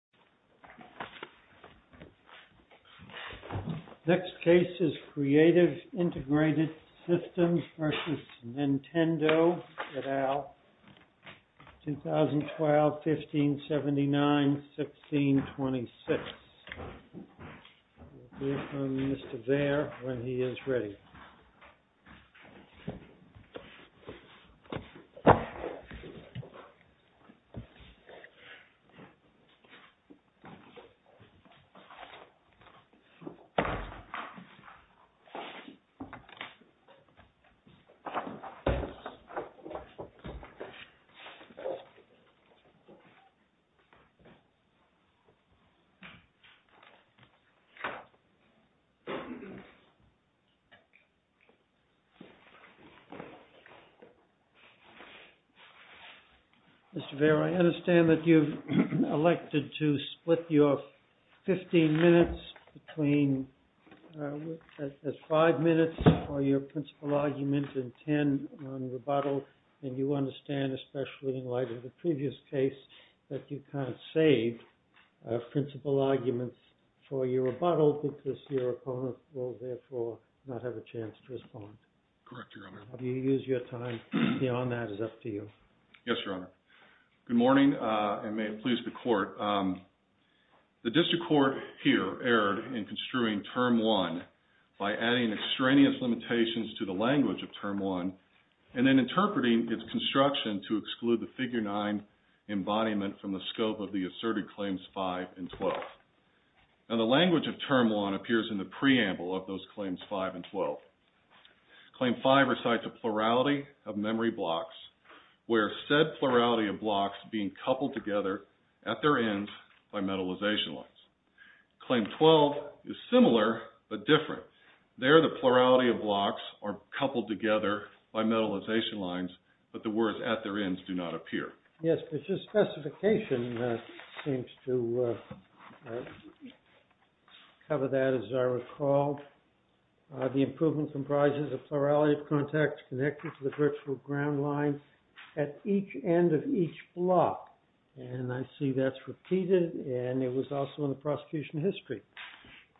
2012-1579-1626 Mr. Vera, I understand that you've elected to split your 15 minutes between five minutes for your principal argument and 10 on rebuttal. And you understand, especially in light of the previous case, that you can't save principal arguments for your rebuttal because your opponent will therefore not have a chance to respond. Correct, Your Honor. You use your time. Beyond that is up to you. Yes, Your Honor. Good morning and may it please the court. The district court here erred in construing Term 1 by adding extraneous limitations to the language of Term 1 and then interpreting its construction to exclude the Figure 9 embodiment from the scope of the asserted Claims 5 and 12. Now the language of Term 1 appears in the preamble of those Claims 5 and 12 blocks where said plurality of blocks being coupled together at their ends by metalization lines. Claim 12 is similar but different. There the plurality of blocks are coupled together by metalization lines but the words at their ends do not appear. Yes, but your specification seems to cover that as I recall. The improvement comprises a plurality of contacts connected to the virtual ground line at each end of each block and I see that's repeated and it was also in the prosecution history.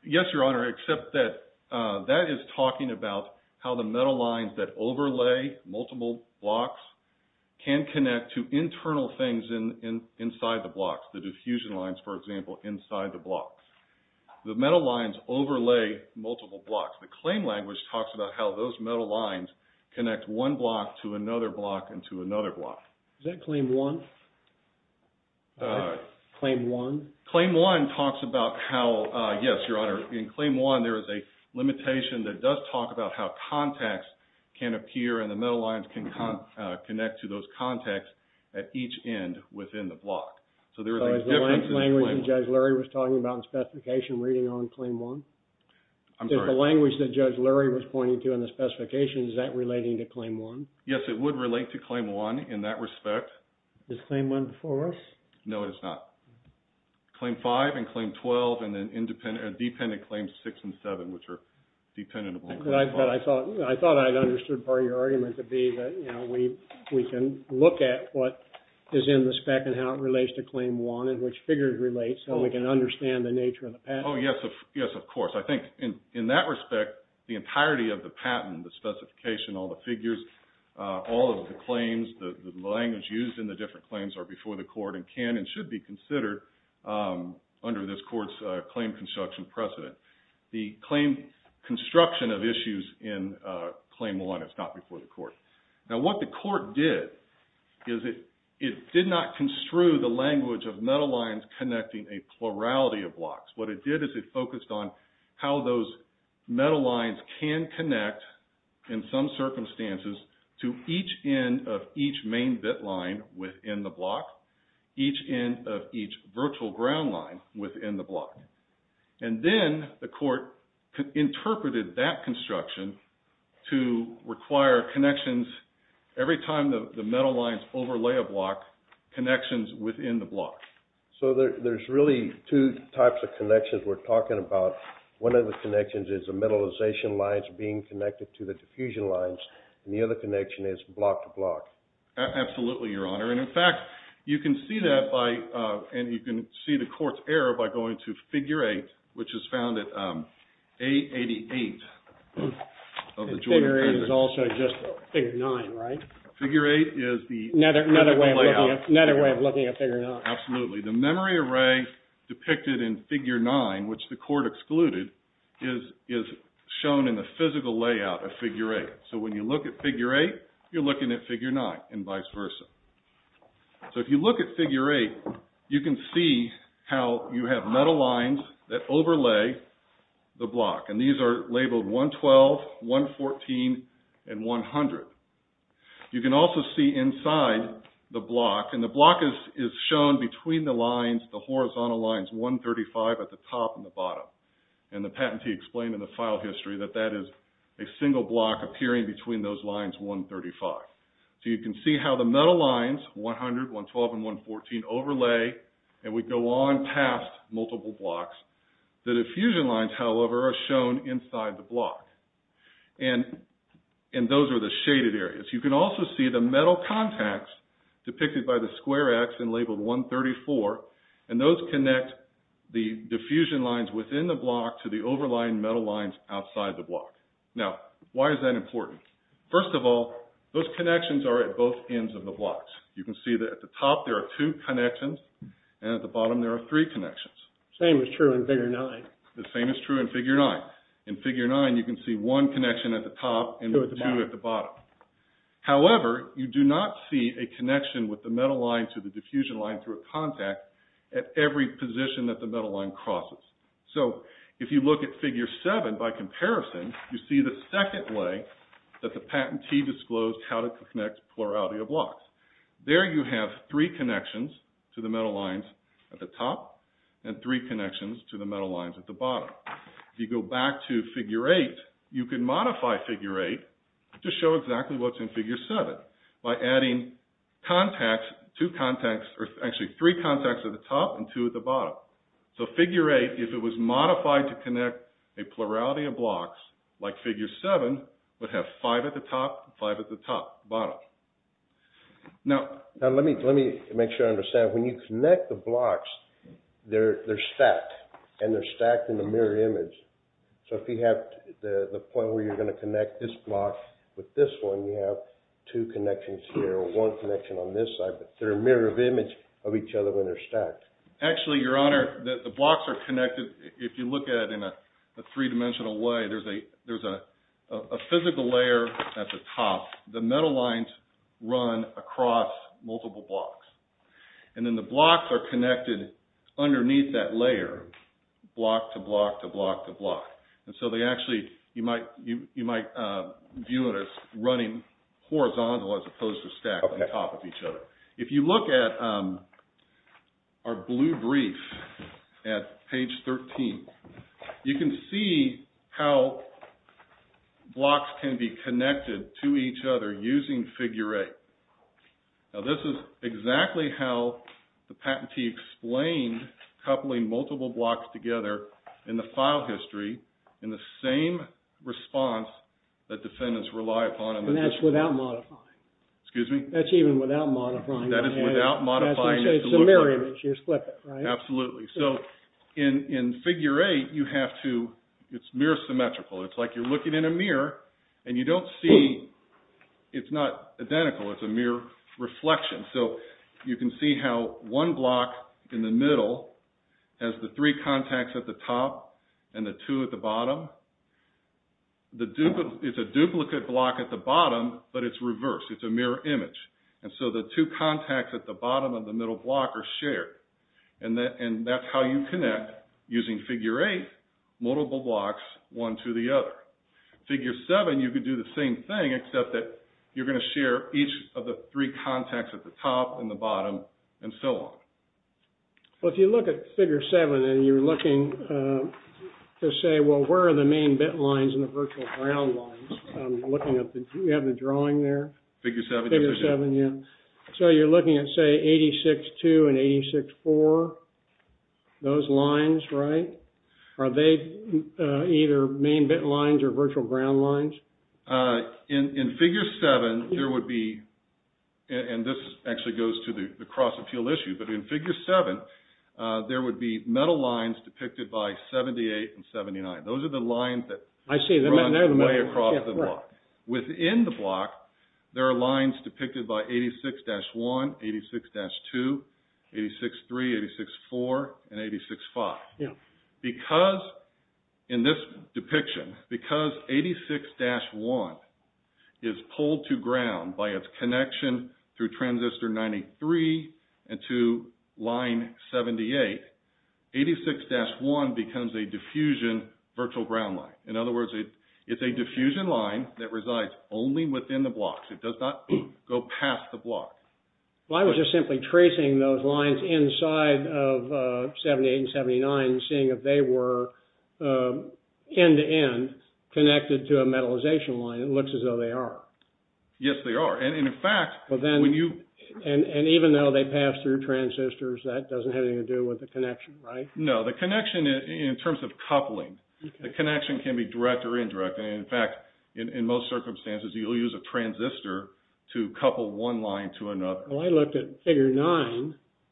Yes, Your Honor except that that is talking about how the metal lines that overlay multiple blocks can connect to internal things in inside the blocks. The diffusion lines for example inside the blocks. The metal lines overlay multiple blocks. The claim language talks about how those metal lines connect one block to another block and to another block. Is that Claim 1? Claim 1? Claim 1 talks about how, yes Your Honor, in Claim 1 there is a limitation that does talk about how contacts can appear and the metal lines can connect to those contacts at each end within the block. So there is a language that Judge Lurie was talking about in specification reading on Claim 1? I'm sorry. The language that Judge Lurie was pointing to in the specifications is that relating to Claim 1? Yes, it would relate to Claim 1 in that respect. Is Claim 1 before us? No, it is not. Claim 5 and Claim 12 and then independent or dependent Claims 6 and 7 which are dependent on Claim 5. I thought I understood part of your argument to be that we can look at what is in the spec and how it relates to Claim 1 and which figures relate so we can understand the nature of the patent. Yes, of course. I think in that respect the entirety of the patent, the specification, all the figures, all of the claims, the language used in the different claims are before the court and can and should be considered under this court's claim construction precedent. The claim construction of issues in Claim 1 is not before the court. Now what the blocks, what it did is it focused on how those metal lines can connect in some circumstances to each end of each main bit line within the block, each end of each virtual ground line within the block. And then the court interpreted that construction to require connections every time the metal lines overlay a block, connections within the block. So there's really two types of connections we're talking about. One of the connections is the metallization lines being connected to the diffusion lines and the other connection is block to block. Absolutely, Your Honor, and in fact you can see that by, and you can see the court's error by going to Figure 8, which is found at A88 of the Jordan Printer. Figure 8 is also just Figure 9, right? Figure 8 is the... Another way of looking at Figure 9. Absolutely. The memory array depicted in Figure 9, which the court excluded, is shown in the physical layout of Figure 8. So when you look at Figure 8, you're looking at Figure 9 and vice versa. So if you look at Figure 8, you can see how you have metal lines that overlay the block and these are labeled 112, 114, and 100. You can also see inside the block and the block is shown between the lines, the horizontal lines, 135 at the top and the bottom and the patentee explained in the file history that that is a single block appearing between those lines, 135. So you can see how the metal lines, 100, 112, and 114 overlay and we go on past multiple blocks. The diffusion lines, however, are shown inside the block and those are the shaded areas. You can also see the metal contacts depicted by the square X and labeled 134 and those connect the diffusion lines within the block to the overlying metal lines outside the block. Now, why is that important? First of all, those connections are at both ends of the blocks. You can see that at the top there are two connections and at the bottom there are three connections. Same is true in Figure 9. The same is true in Figure 9. In Figure 9, you can see one connection at the top and two at the bottom. However, you do not see a connection with the diffusion line through a contact at every position that the metal line crosses. So, if you look at Figure 7 by comparison, you see the second way that the patentee disclosed how to connect plurality of blocks. There you have three connections to the metal lines at the top and three connections to the metal lines at the bottom. If you go back to Figure 8, you can modify Figure 8 to show exactly what is in Figure 7 by adding three contacts at the top and two at the bottom. So, Figure 8, if it was modified to connect a plurality of blocks, like Figure 7, would have five at the top and five at the top, bottom. Now, let me make sure I understand. When you connect the blocks, they are stacked and they are stacked in the mirror image. So, if you have the point where you are going to connect this block with this one, you have two connections here or one connection on this side, but they are in mirror image of each other when they are stacked. Actually, Your Honor, the blocks are connected, if you look at it in a three-dimensional way, there is a physical layer at the top. The metal lines run across multiple blocks. And then the blocks are connected underneath that layer, block to block to block to block. And so they actually, you might view it as running horizontal as opposed to stacked on top of each other. If you look at our blue brief at page 13, you can see how blocks can be connected to each other using Figure 8. Now, this is exactly how the patentee explained coupling multiple blocks together in the file history in the same response that defendants rely upon. And that is without modifying. Excuse me? That is even without modifying. That is without modifying. It is a mirror image. You just flip it, right? Absolutely. So, in Figure 8, you have to, it is mirror symmetrical. It is like you are looking in a mirror and you do not see it. It is not identical. It is a mirror reflection. So, you can see how one block in the middle has the three contacts at the top and the two at the bottom. It is a duplicate block at the bottom, but it is reversed. It is a mirror image. And so the two contacts at the bottom of the middle block are shared. And that is how you connect using Figure 8, multiple blocks one to the other. Figure 7, you can do the same thing, except that you are going to share each of the three contacts at the top and the bottom and so on. Well, if you look at Figure 7 and you are looking to say, well, where are the main bit lines and the virtual ground lines? I am looking at the, do you have the drawing there? Figure 7, yes. So, you are looking at, say, 86-2 and 86-4, those lines, right? Are they either main bit lines or virtual ground lines? In Figure 7, there would be, and this actually goes to the cross-appeal issue, but in Figure 7, there would be metal lines depicted by 78 and 79. Those are the lines that run way across the block. Within the block, there are lines depicted by 86-1, 86-2, 86-3, 86-4, and 86-5. Because, in this depiction, because 86-1 is pulled to ground by its connection through transistor 93 and to line 78, 86-1 becomes a diffusion virtual ground line. In other words, it is a diffusion line that resides only within the blocks. It does not go past the block. Well, I was just simply tracing those lines inside of 78 and 79, seeing if they were end-to-end connected to a metallization line. It looks as though they are. Yes, they are. And, in fact, when you... And even though they pass through transistors, that does not have anything to do with the connection, right? No, the connection, in terms of coupling, the connection can be direct or indirect. And, in fact, in most circumstances, you'll use a transistor to couple one line to another. Well, I looked at Figure 9,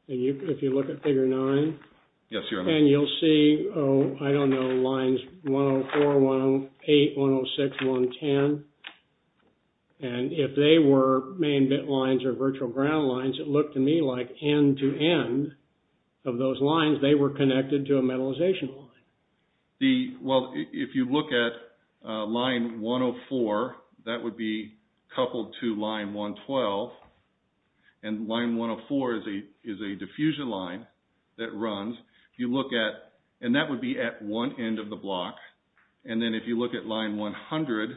and if you look at Figure 9... Yes, here. And you'll see, oh, I don't know, lines 104, 108, 106, 110. And if they were main bit lines or virtual ground lines, it looked to me like end-to-end of those lines, they were connected to a metallization line. Well, if you look at line 104, that would be coupled to line 112. And line 104 is a diffusion line that runs. If you look at... And that would be at one end of the block. And then if you look at line 100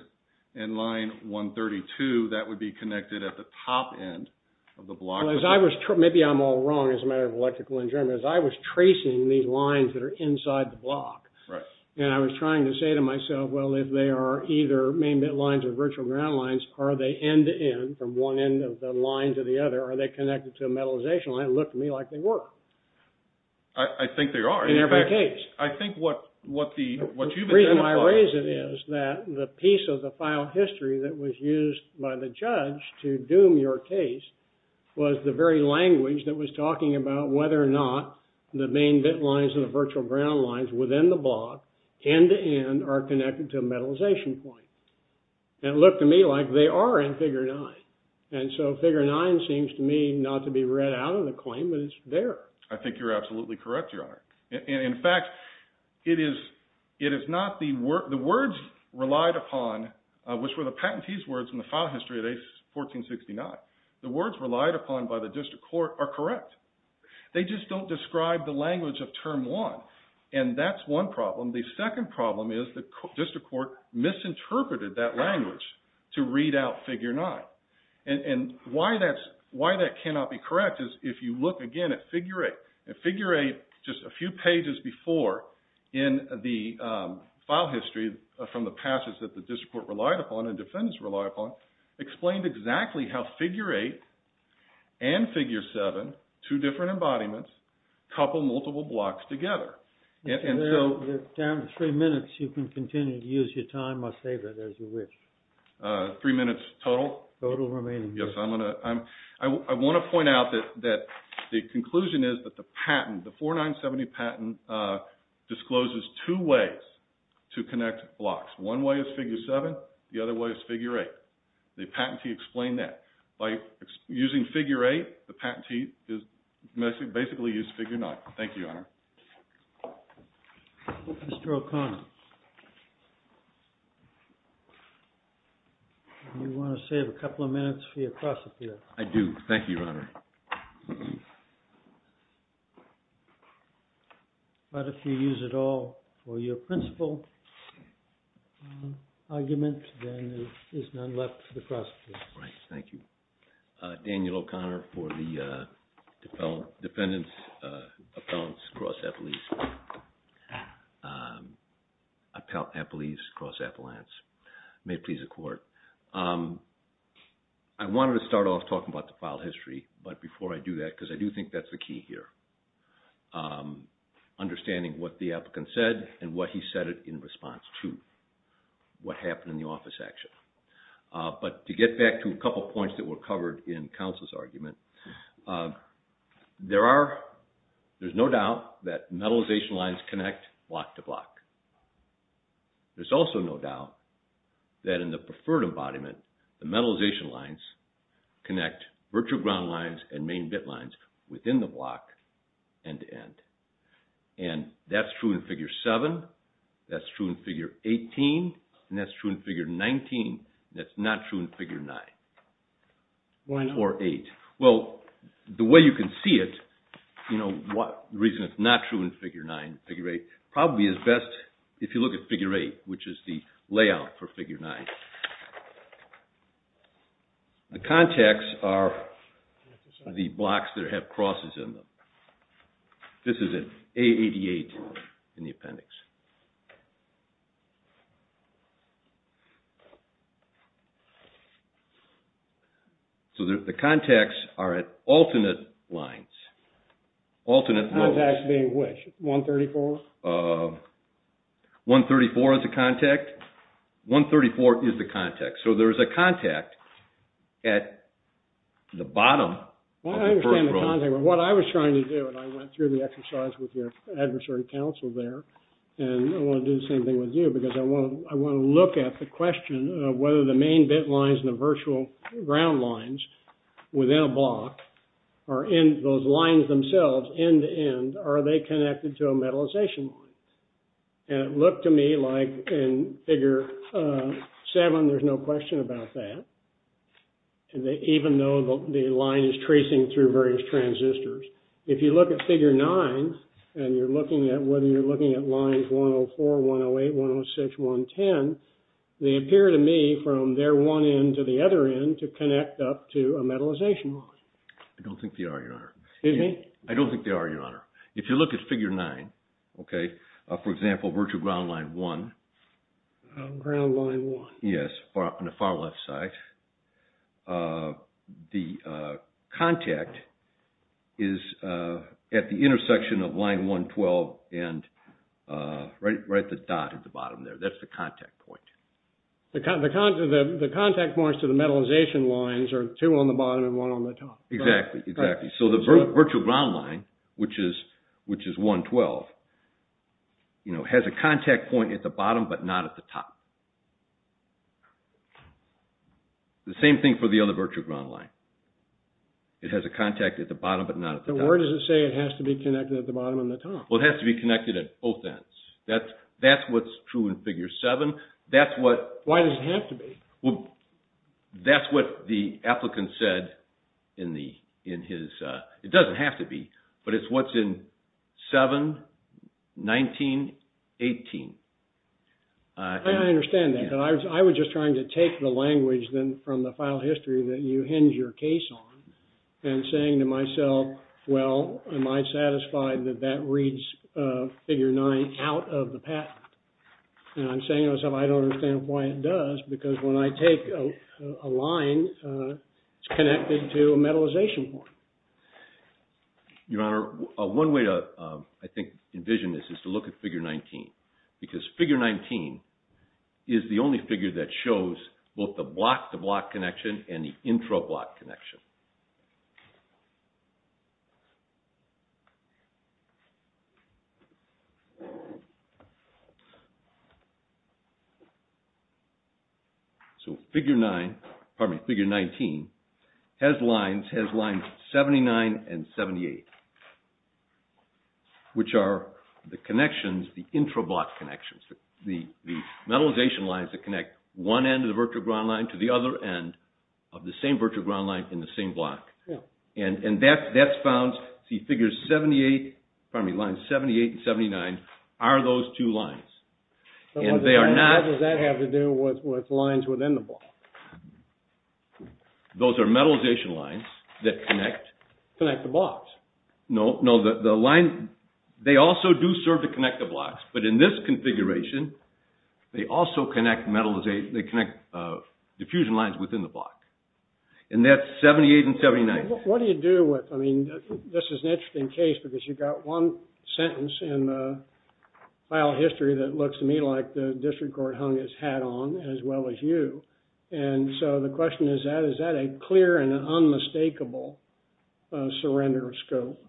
and line 132, that would be connected at the top end of the block. Well, as I was... Maybe I'm all wrong as a matter of electrical engineering, but as I was tracing these lines that are inside the block... Right. And I was trying to say to myself, well, if they are either main bit lines or virtual ground lines, are they end-to-end from one end of the line to the other? Are they connected to a metallization line? It looked to me like they were. I think they are. In every case. I think what the... The piece of the file history that was used by the judge to doom your case was the very language that was talking about whether or not the main bit lines and the virtual ground lines within the block, end-to-end, are connected to a metallization point. And it looked to me like they are in figure 9. And so figure 9 seems to me not to be read out of the claim, but it's there. I think you're absolutely correct, Your Honor. In fact, it is not the words relied upon, which were the patentee's words in the file history of 1469. The words relied upon by the district court are correct. They just don't describe the language of term 1. And that's one problem. The second problem is the district court misinterpreted that language to read out figure 9. And why that cannot be correct is if you look again at figure 8. And figure 8, just a few pages before in the file history from the passage that the district court relied upon and defendants relied upon, explained exactly how figure 8 and figure 7, two different embodiments, couple multiple blocks together. And so... You're down to three minutes. You can continue to use your time or save it as you wish. Three minutes total? Total remaining. Yes, I want to point out that the conclusion is that the patent, the 4970 patent discloses two ways to connect blocks. One way is figure 7, the other way is figure 8. The patentee explained that. By using figure 8, the patentee basically used figure 9. Thank you, Your Honor. Mr. O'Connor, you want to save a couple of minutes for your cross appeal? I do. Thank you, Your Honor. But if you use it all for your principle argument, then there is none left for the cross appeal. Right, thank you. Daniel O'Connor for the defendants' cross appellees. May it please the Court. I wanted to start off talking about the file history, but before I do that, because I do think that's the key here. Understanding what the applicant said and what he said in response to what happened in the office action. But to get back to a couple points that were covered in counsel's argument, there's no doubt that metallization lines connect block to block. There's also no doubt that in the preferred embodiment, the metallization lines connect virtual ground lines and main bit lines within the block end to end. And that's true in figure 7, that's true in figure 18, and that's true in figure 19, and that's not true in figure 9. Why not? Well, the way you can see it, the reason it's not true in figure 9, figure 8, probably is best if you look at figure 8, which is the layout for figure 9. The contacts are the blocks that have crosses in them. This is an A88 in the appendix. So the contacts are at alternate lines. Alternate lines. Contacts being which? 134? 134 is the contact. So there is a contact at the bottom of the first row. And it looked to me like in figure 7, there's no question about that, even though the line is tracing through various transistors. If you look at figure 9, and you're looking at whether you're looking at lines 104, 108, 106, 110, they appear to me from their one end to the other end to connect up to a metallization line. I don't think they are, Your Honor. Excuse me? I don't think they are, Your Honor. If you look at figure 9, okay, for example, virtual ground line 1. Ground line 1. Yes, on the far left side. The contact is at the intersection of line 112 and right at the dot at the bottom there. That's the contact point. The contact points to the metallization lines are two on the bottom and one on the top. Exactly, exactly. So the virtual ground line, which is 112, has a contact point at the bottom but not at the top. The same thing for the other virtual ground line. It has a contact at the bottom but not at the top. But where does it say it has to be connected at the bottom and the top? Well, it has to be connected at both ends. That's what's true in figure 7. Why does it have to be? Well, that's what the applicant said in his, it doesn't have to be, but it's what's in 7, 19, 18. I understand that, but I was just trying to take the language from the file history that you hinge your case on and saying to myself, well, am I satisfied that that reads figure 9 out of the patent? And I'm saying to myself, I don't understand why it does, because when I take a line, it's connected to a metallization point. Your Honor, one way to, I think, envision this is to look at figure 19. Because figure 19 is the only figure that shows both the block-to-block connection and the intra-block connection. So figure 9, pardon me, figure 19 has lines 79 and 78, which are the connections, the intra-block connections, the metallization lines that connect one end of the virtual ground line to the other end of the same virtual ground line in the same block. And that's found, see figure 78, pardon me, lines 78 and 79 are those two lines. And they are not... What does that have to do with lines within the block? Those are metallization lines that connect... Connect the blocks. No, no, the line, they also do serve to connect the blocks, but in this configuration, they also connect metallization, they connect diffusion lines within the block. And that's 78 and 79. What do you do with... I mean, this is an interesting case because you got one sentence in the file history that looks to me like the district court hung its hat on, as well as you. And so the question is that, is that a clear and unmistakable surrender of scope?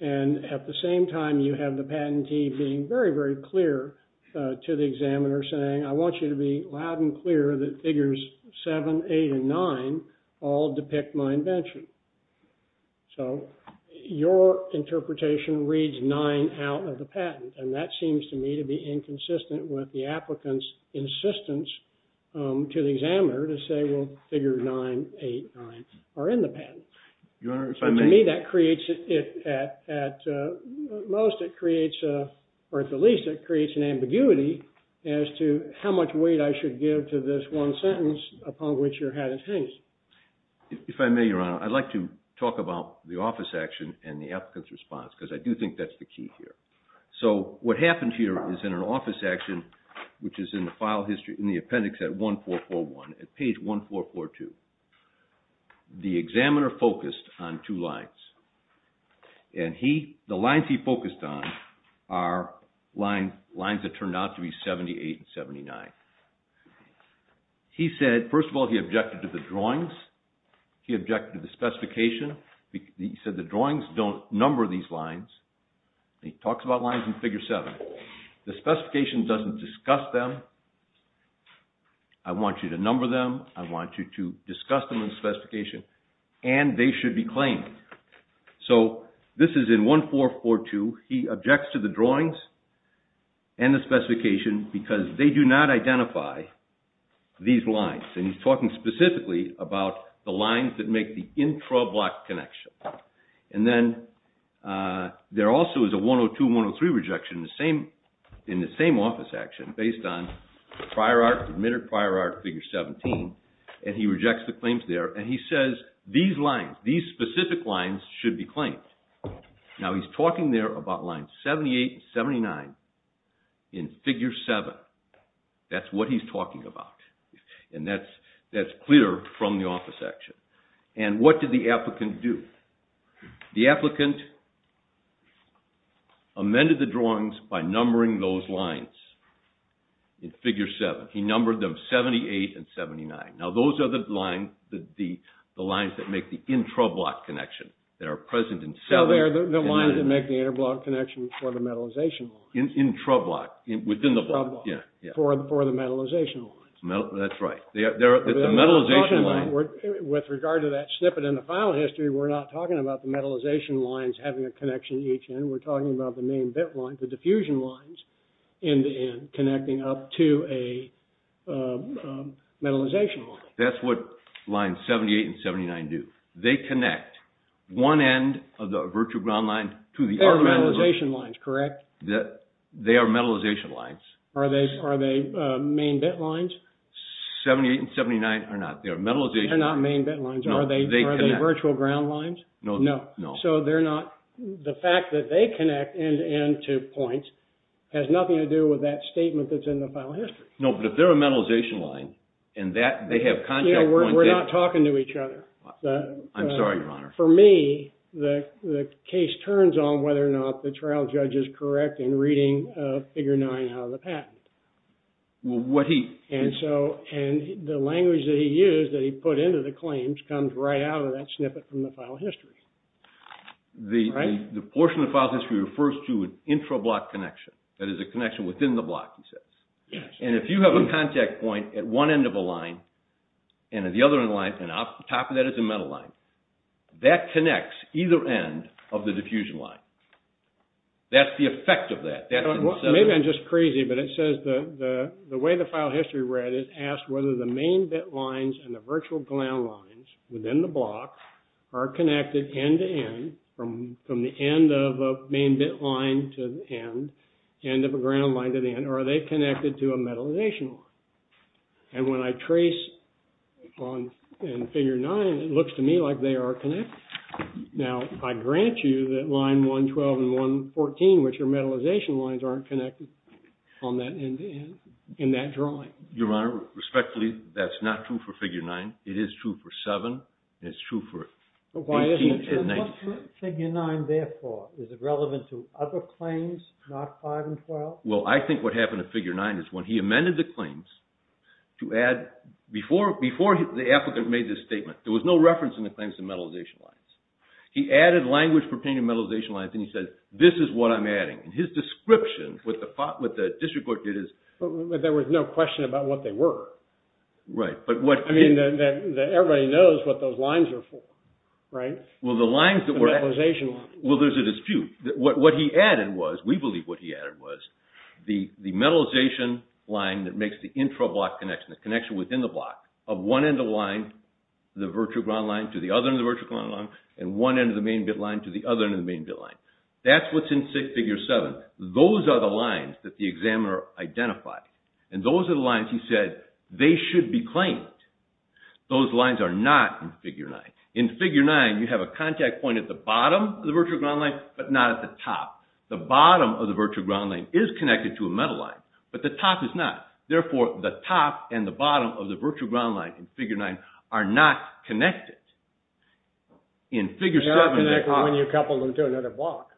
And at the same time, you have the patentee being very, very clear to the examiner saying, I want you to be loud and clear that figures 7, 8, and 9 all depict my invention. So your interpretation reads 9 out of the patent. And that seems to me to be inconsistent with the applicant's insistence to the examiner to say, well, figure 9, 8, 9 are in the patent. Your Honor, if I may... To me, that creates, at most, it creates, or at the least, it creates an ambiguity as to how much weight I should give to this one sentence upon which your hat is hanged. If I may, Your Honor, I'd like to talk about the office action and the applicant's response because I do think that's the key here. So what happened here is in an office action, which is in the file history, in the appendix at 1441, at page 1442, the examiner focused on two lines. And the lines he focused on are lines that turned out to be 78 and 79. He said, first of all, he objected to the drawings. He objected to the specification. He said the drawings don't number these lines. He talks about lines in figure 7. The specification doesn't discuss them. I want you to number them. I want you to discuss them in the specification. And they should be claimed. So this is in 1442. He objects to the drawings and the specification because they do not identify these lines. And he's talking specifically about the lines that make the intra-block connection. And then there also is a 102 and 103 rejection in the same office action based on prior art, admitted prior art, figure 17. And he rejects the claims there. And he says these lines, these specific lines should be claimed. Now he's talking there about lines 78 and 79 in figure 7. That's what he's talking about. And that's clear from the office action. And what did the applicant do? The applicant amended the drawings by numbering those lines in figure 7. He numbered them 78 and 79. Now those are the lines that make the intra-block connection that are present in 7. So they're the lines that make the intra-block connection for the metallization lines. Intra-block, within the block. For the metallization lines. That's right. With regard to that snippet in the file history, we're not talking about the metallization lines having a connection to each end. We're talking about the main bit lines, the diffusion lines, in the end, connecting up to a metallization line. That's what lines 78 and 79 do. They connect one end of the virtual ground line to the... They are metallization lines, correct? They are metallization lines. Are they main bit lines? 78 and 79 are not. They are metallization lines. They're not main bit lines. Are they virtual ground lines? No. So they're not... The fact that they connect end-to-end to points has nothing to do with that statement that's in the file history. No, but if they're a metallization line, and they have contact points... We're not talking to each other. I'm sorry, Your Honor. For me, the case turns on whether or not the trial judge is correct in reading figure 9 out of the patent. Well, what he... And the language that he used, that he put into the claims, comes right out of that snippet from the file history. The portion of the file history refers to an intra-block connection. That is a connection within the block, he says. Yes. And if you have a contact point at one end of a line, and at the other end of the line, and at the top of that is a metal line, that connects either end of the diffusion line. That's the effect of that. Maybe I'm just crazy, but it says the way the file history read it, asked whether the main bit lines and the virtual ground lines within the block are connected end-to-end, from the end of a main bit line to the end, end of a ground line to the end, or are they connected to a metallization line? And when I trace in figure 9, it looks to me like they are connected. Now, I grant you that line 112 and 114, which are metallization lines, aren't connected on that end-to-end in that drawing. Your Honor, respectfully, that's not true for figure 9. It is true for 7, and it's true for 18 and 19. Figure 9, therefore, is it relevant to other claims, not 5 and 12? Well, I think what happened in figure 9 is when he amended the claims to add... Before the applicant made this statement, there was no reference in the claims to metallization lines. He added language pertaining to metallization lines, and he said, this is what I'm adding, and his description, what the district court did is... But there was no question about what they were. Right, but what... I mean, everybody knows what those lines are for, right? Well, the lines that were... The metallization lines. Well, there's a dispute. What he added was, we believe what he added was, the metallization line that makes the intra-block connection, the connection within the block, of one end of the line, the virtual ground line, to the other end of the virtual ground line, and one end of the main bit line to the other end of the main bit line. That's what's in figure 7. Those are the lines that the examiner identified, and those are the lines he said they should be claimed. Those lines are not in figure 9. In figure 9, you have a contact point at the bottom of the virtual ground line, but not at the top. The bottom of the virtual ground line is connected to a metal line, but the top is not. Therefore, the top and the bottom of the virtual ground line in figure 9 are not connected. In figure 7... They're not connected when you couple them to another block.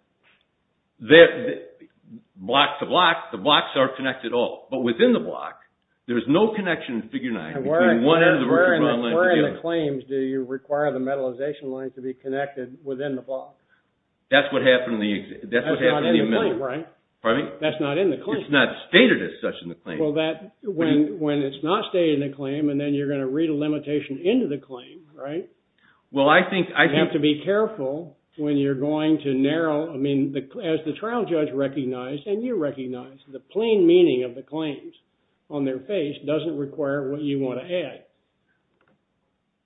Block to block, the blocks are connected all, but within the block, there's no connection in figure 9 between one end of the virtual ground line to the other. Where in the claims do you require the metallization line to be connected within the block? That's what happened in the... That's not in the claim, right? Pardon me? That's not in the claim. It's not stated as such in the claim. Well, that... When it's not stated in the claim, and then you're going to read a limitation into the claim, right? Well, I think... You have to be careful when you're going to narrow... I mean, as the trial judge recognized, and you recognized, the plain meaning of the claims on their face doesn't require what you want to add.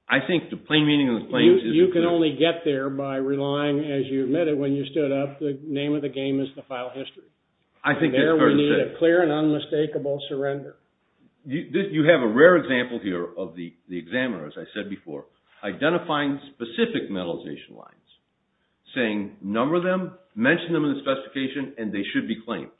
I think the plain meaning of the claims is... You can only get there by relying, as you admitted when you stood up, the name of the game is the file history. I think that's fair to say. There we need a clear and unmistakable surrender. You have a rare example here of the examiner, as I said before, identifying specific metallization lines, saying, number them, mention them in the specification, and they should be claimed.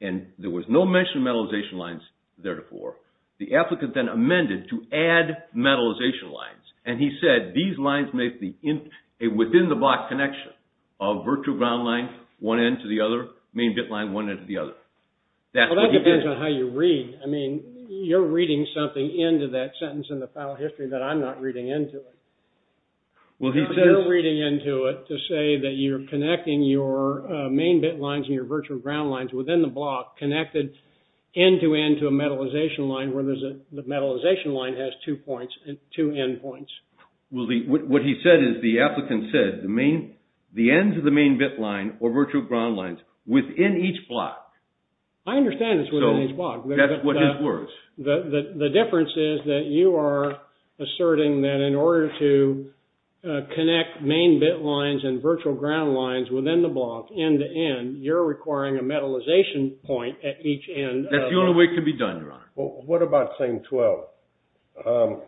And there was no mention of metallization lines there before. The applicant then amended to add metallization lines, and he said these lines make a within-the-block connection of virtual ground line, one end to the other, main bit line, one end to the other. That's what he did. Well, that depends on how you read. I mean, you're reading something into that sentence in the file history that I'm not reading into it. Well, he said... You're reading into it to say that you're connecting your main bit lines and your virtual ground lines within the block, connected end-to-end to a metallization line, where the metallization line has two end points. Well, what he said is the applicant said the ends of the main bit line or virtual ground lines within each block. I understand it's within each block. That's what his words. The difference is that you are asserting that in order to connect main bit lines and virtual ground lines within the block end-to-end, you're requiring a metallization point at each end. That's the only way it can be done, Your Honor. Well, what about claim 12?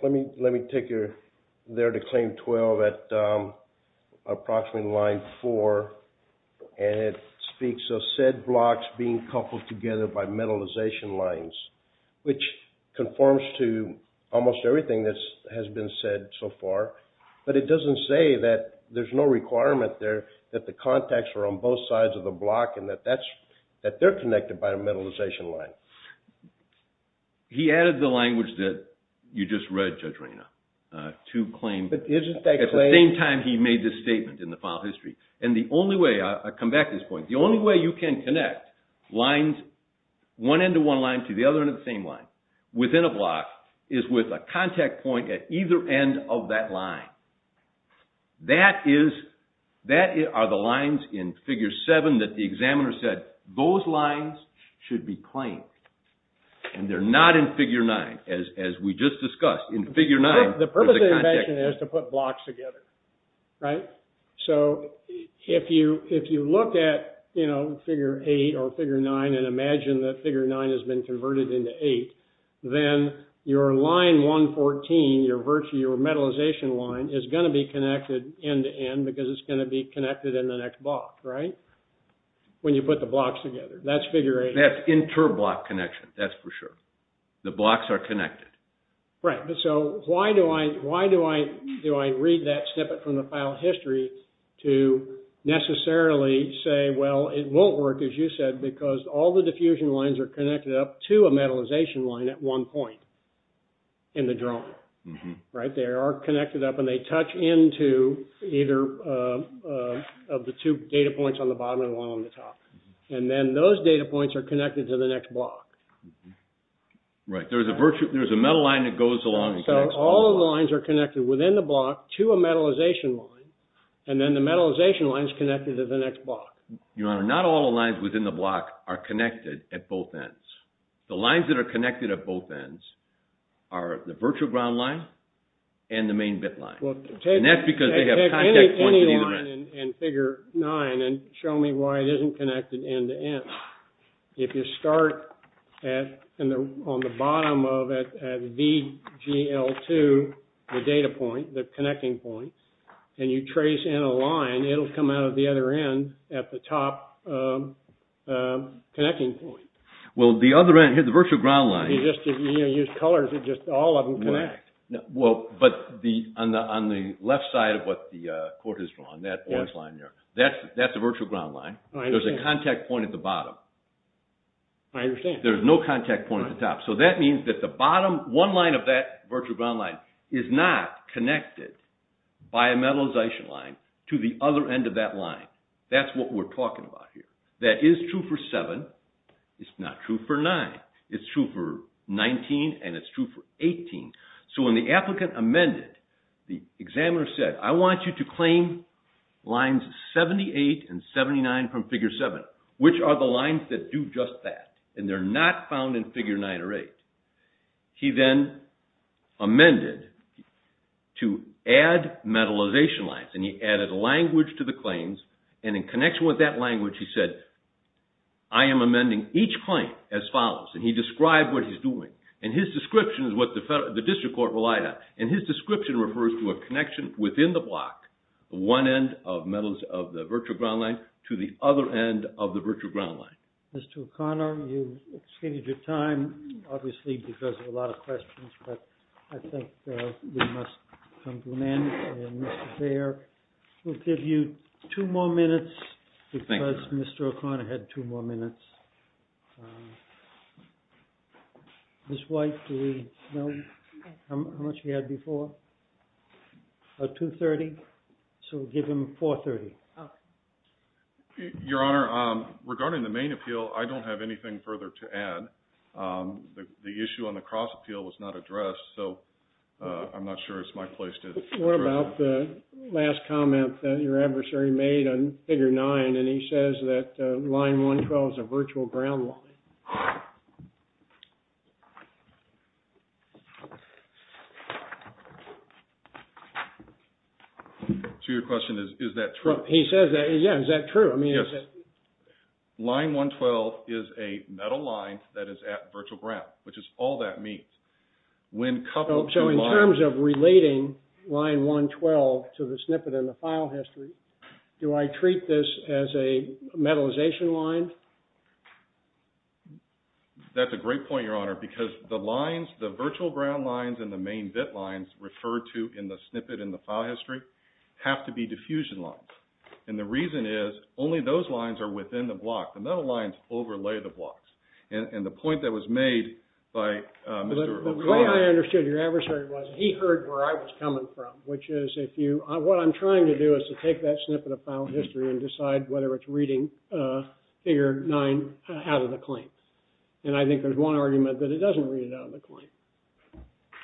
Let me take you there to claim 12 at approximately line 4, and it speaks of said blocks being coupled together by metallization lines, which conforms to almost everything that has been said so far. But it doesn't say that there's no requirement there that the contacts are on a metallization line. He added the language that you just read, Judge Reyna, to claim. But isn't that claim? At the same time, he made this statement in the file history. And the only way, I come back to this point, the only way you can connect lines, one end to one line to the other end of the same line within a block, is with a contact point at either end of that line. That is, that are the lines in Figure 7 that the examiner said, those lines should be claimed. And they're not in Figure 9, as we just discussed. In Figure 9, there's a contact point. The purpose of the invention is to put blocks together, right? So if you look at, you know, Figure 8 or Figure 9 and imagine that Figure 9 has been converted into 8, then your line 114, your metallization line, is going to be connected end to end because it's going to be connected in the next block, right? When you put the blocks together. That's Figure 8. That's interblock connection. That's for sure. The blocks are connected. Right. So why do I read that snippet from the file history to necessarily say, well, it won't work, as you said, because all the diffusion lines are connected up to a metallization line at one point in the drawing, right? They are connected up and they touch into either of the two data points on the bottom and one on the top. And then those data points are connected to the next block. Right. There's a metal line that goes along and connects all the lines. So all the lines are connected within the block to a metallization line, and then the metallization line is connected to the next block. Your Honor, not all the lines within the block are connected at both ends. The lines that are connected at both ends are the virtual ground line and the main bit line. And that's because they have contact points at either end. Go back to figure 10 and figure 9 and show me why it isn't connected end to end. If you start on the bottom of it at VGL2, the data point, the connecting point, and you trace in a line, it'll come out of the other end at the top connecting point. Well, the other end, the virtual ground line. You just use colors and just all of them connect. Well, but on the left side of what the court has drawn, that orange line there, that's a virtual ground line. There's a contact point at the bottom. I understand. There's no contact point at the top. So that means that the bottom one line of that virtual ground line is not connected by a metallization line to the other end of that line. That's what we're talking about here. That is true for 7. It's not true for 9. It's true for 19, and it's true for 18. So when the applicant amended, the examiner said, I want you to claim lines 78 and 79 from figure 7, which are the lines that do just that, and they're not found in figure 9 or 8. He then amended to add metallization lines, and he added language to the claims. And in connection with that language, he said, I am amending each claim as follows. And he described what he's doing. And his description is what the district court relied on. And his description refers to a connection within the block, one end of the virtual ground line to the other end of the virtual ground line. Mr. O'Connor, you've extended your time, obviously, because of a lot of questions, but I think we must come to an end. And Mr. Baer, we'll give you two more minutes, because Mr. O'Connor had two more minutes. Ms. White, do we know how much he had before? About $230. So we'll give him $430. Your Honor, regarding the main appeal, I don't have anything further to add. The issue on the cross appeal was not addressed, so I'm not sure it's my place to address it. What about the last comment that your adversary made on figure 9, and he says that line 112 is a virtual ground line? So your question is, is that true? He says that. Yeah, is that true? Yes. Line 112 is a metal line that is at virtual ground, which is all that means. So in terms of relating line 112 to the snippet in the file history, do I treat this as a metallization line? That's a great point, Your Honor, because the lines, the virtual ground lines and the main bit lines referred to in the snippet in the file history have to be diffusion lines. And the reason is only those lines are within the block. The metal lines overlay the blocks. And the point that was made by Mr. O'Connor. The way I understood your adversary was he heard where I was coming from, which is what I'm trying to do is to take that snippet of file history and decide whether it's reading figure 9 out of the claim. And I think there's one argument that it doesn't read it out of the claim.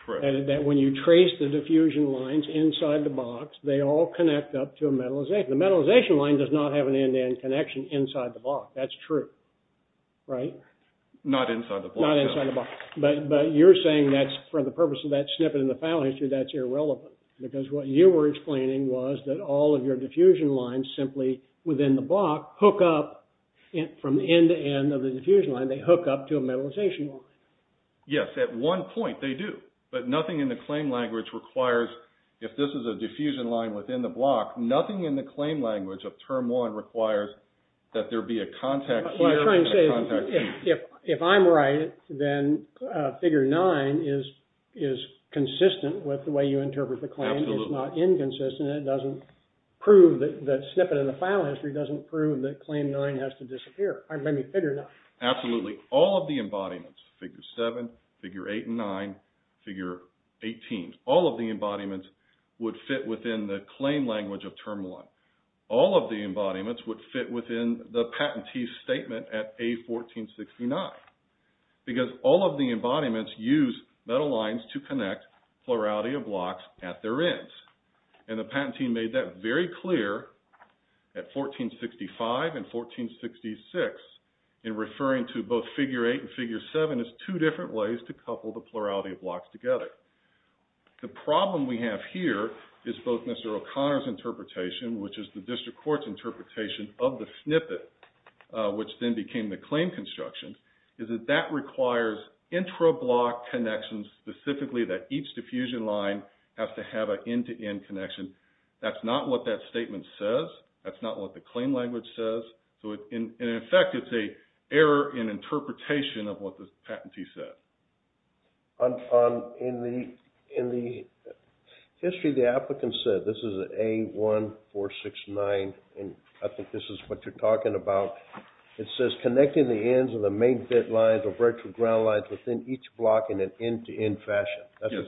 That when you trace the diffusion lines inside the box, they all connect up to a metallization. The metallization line does not have an end-to-end connection inside the block. That's true, right? Not inside the block. Not inside the block. But you're saying that for the purpose of that snippet in the file history, that's irrelevant. Because what you were explaining was that all of your diffusion lines simply within the block hook up from the end-to-end of the diffusion line, they hook up to a metallization line. Yes, at one point they do. But nothing in the claim language requires, if this is a diffusion line within the block, nothing in the claim language of term 1 requires that there be a contact here. If I'm right, then figure 9 is consistent with the way you interpret the claim. It's not inconsistent. It doesn't prove that the snippet in the file history doesn't prove that claim 9 has to disappear. I mean, figure 9. Absolutely. All of the embodiments, figure 7, figure 8 and 9, figure 18, all of the embodiments would fit within the claim language of term 1. All of the embodiments would fit within the patentee's statement at A1469. Because all of the embodiments use metal lines to connect plurality of blocks at their ends. And the patent team made that very clear at 1465 and 1466 in referring to both figure 8 and figure 7 as two different ways to couple the plurality of blocks together. The problem we have here is both Mr. O'Connor's interpretation, which is the district court's interpretation of the snippet, which then became the claim construction, is that that requires intra-block connections specifically that each diffusion line has to have an end-to-end connection. That's not what that statement says. That's not what the claim language says. So, in effect, it's an error in interpretation of what the patentee said. In the history, the applicant said, this is A1469, and I think this is what you're talking about. It says, connecting the ends of the main bit lines or virtual ground lines within each block in an end-to-end fashion.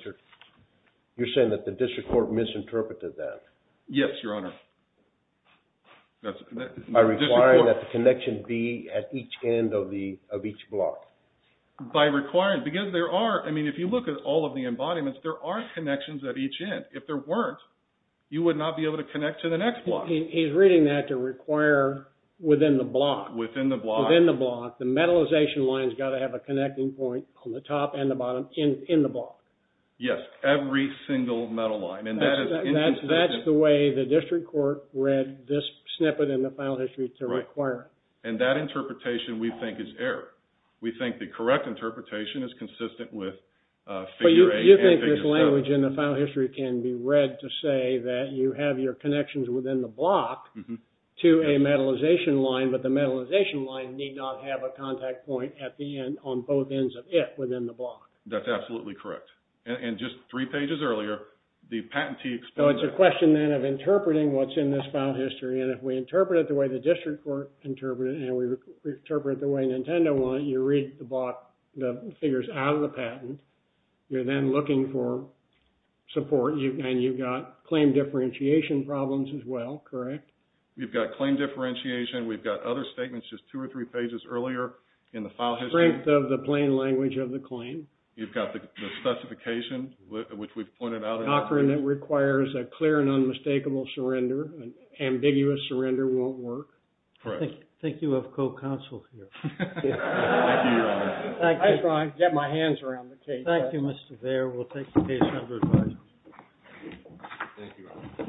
You're saying that the district court misinterpreted that. Yes, Your Honor. By requiring that the connection be at each end of each block. By requiring, because there are, I mean, if you look at all of the embodiments, there are connections at each end. If there weren't, you would not be able to connect to the next block. He's reading that to require within the block. Within the block. Within the block, the metallization line's got to have a connecting point on the top and the bottom in the block. Yes, every single metal line, and that is inconsistent. That's the way the district court read this snippet in the final history to require. And that interpretation, we think, is error. We think the correct interpretation is consistent with figure 8 and figure 7. But you think this language in the final history can be read to say that you have your connections within the block to a metallization line, but the metallization line need not have a contact point at the end, on both ends of it, within the block. That's absolutely correct. And just three pages earlier, the patentee explained that. So it's a question, then, of interpreting what's in this final history. And if we interpret it the way the district court interpreted it, and we interpret it the way Nintendo want it, you read the figures out of the patent. You're then looking for support, and you've got claim differentiation problems as well, correct? We've got claim differentiation. We've got other statements just two or three pages earlier in the file history. Strength of the plain language of the claim. You've got the specification, which we've pointed out in the document. An offer that requires a clear and unmistakable surrender. An ambiguous surrender won't work. I think you have co-counsel here. Thank you, Your Honor. I try to get my hands around the case. Thank you, Mr. Vare. We'll take the case under advisory. Thank you, Your Honor.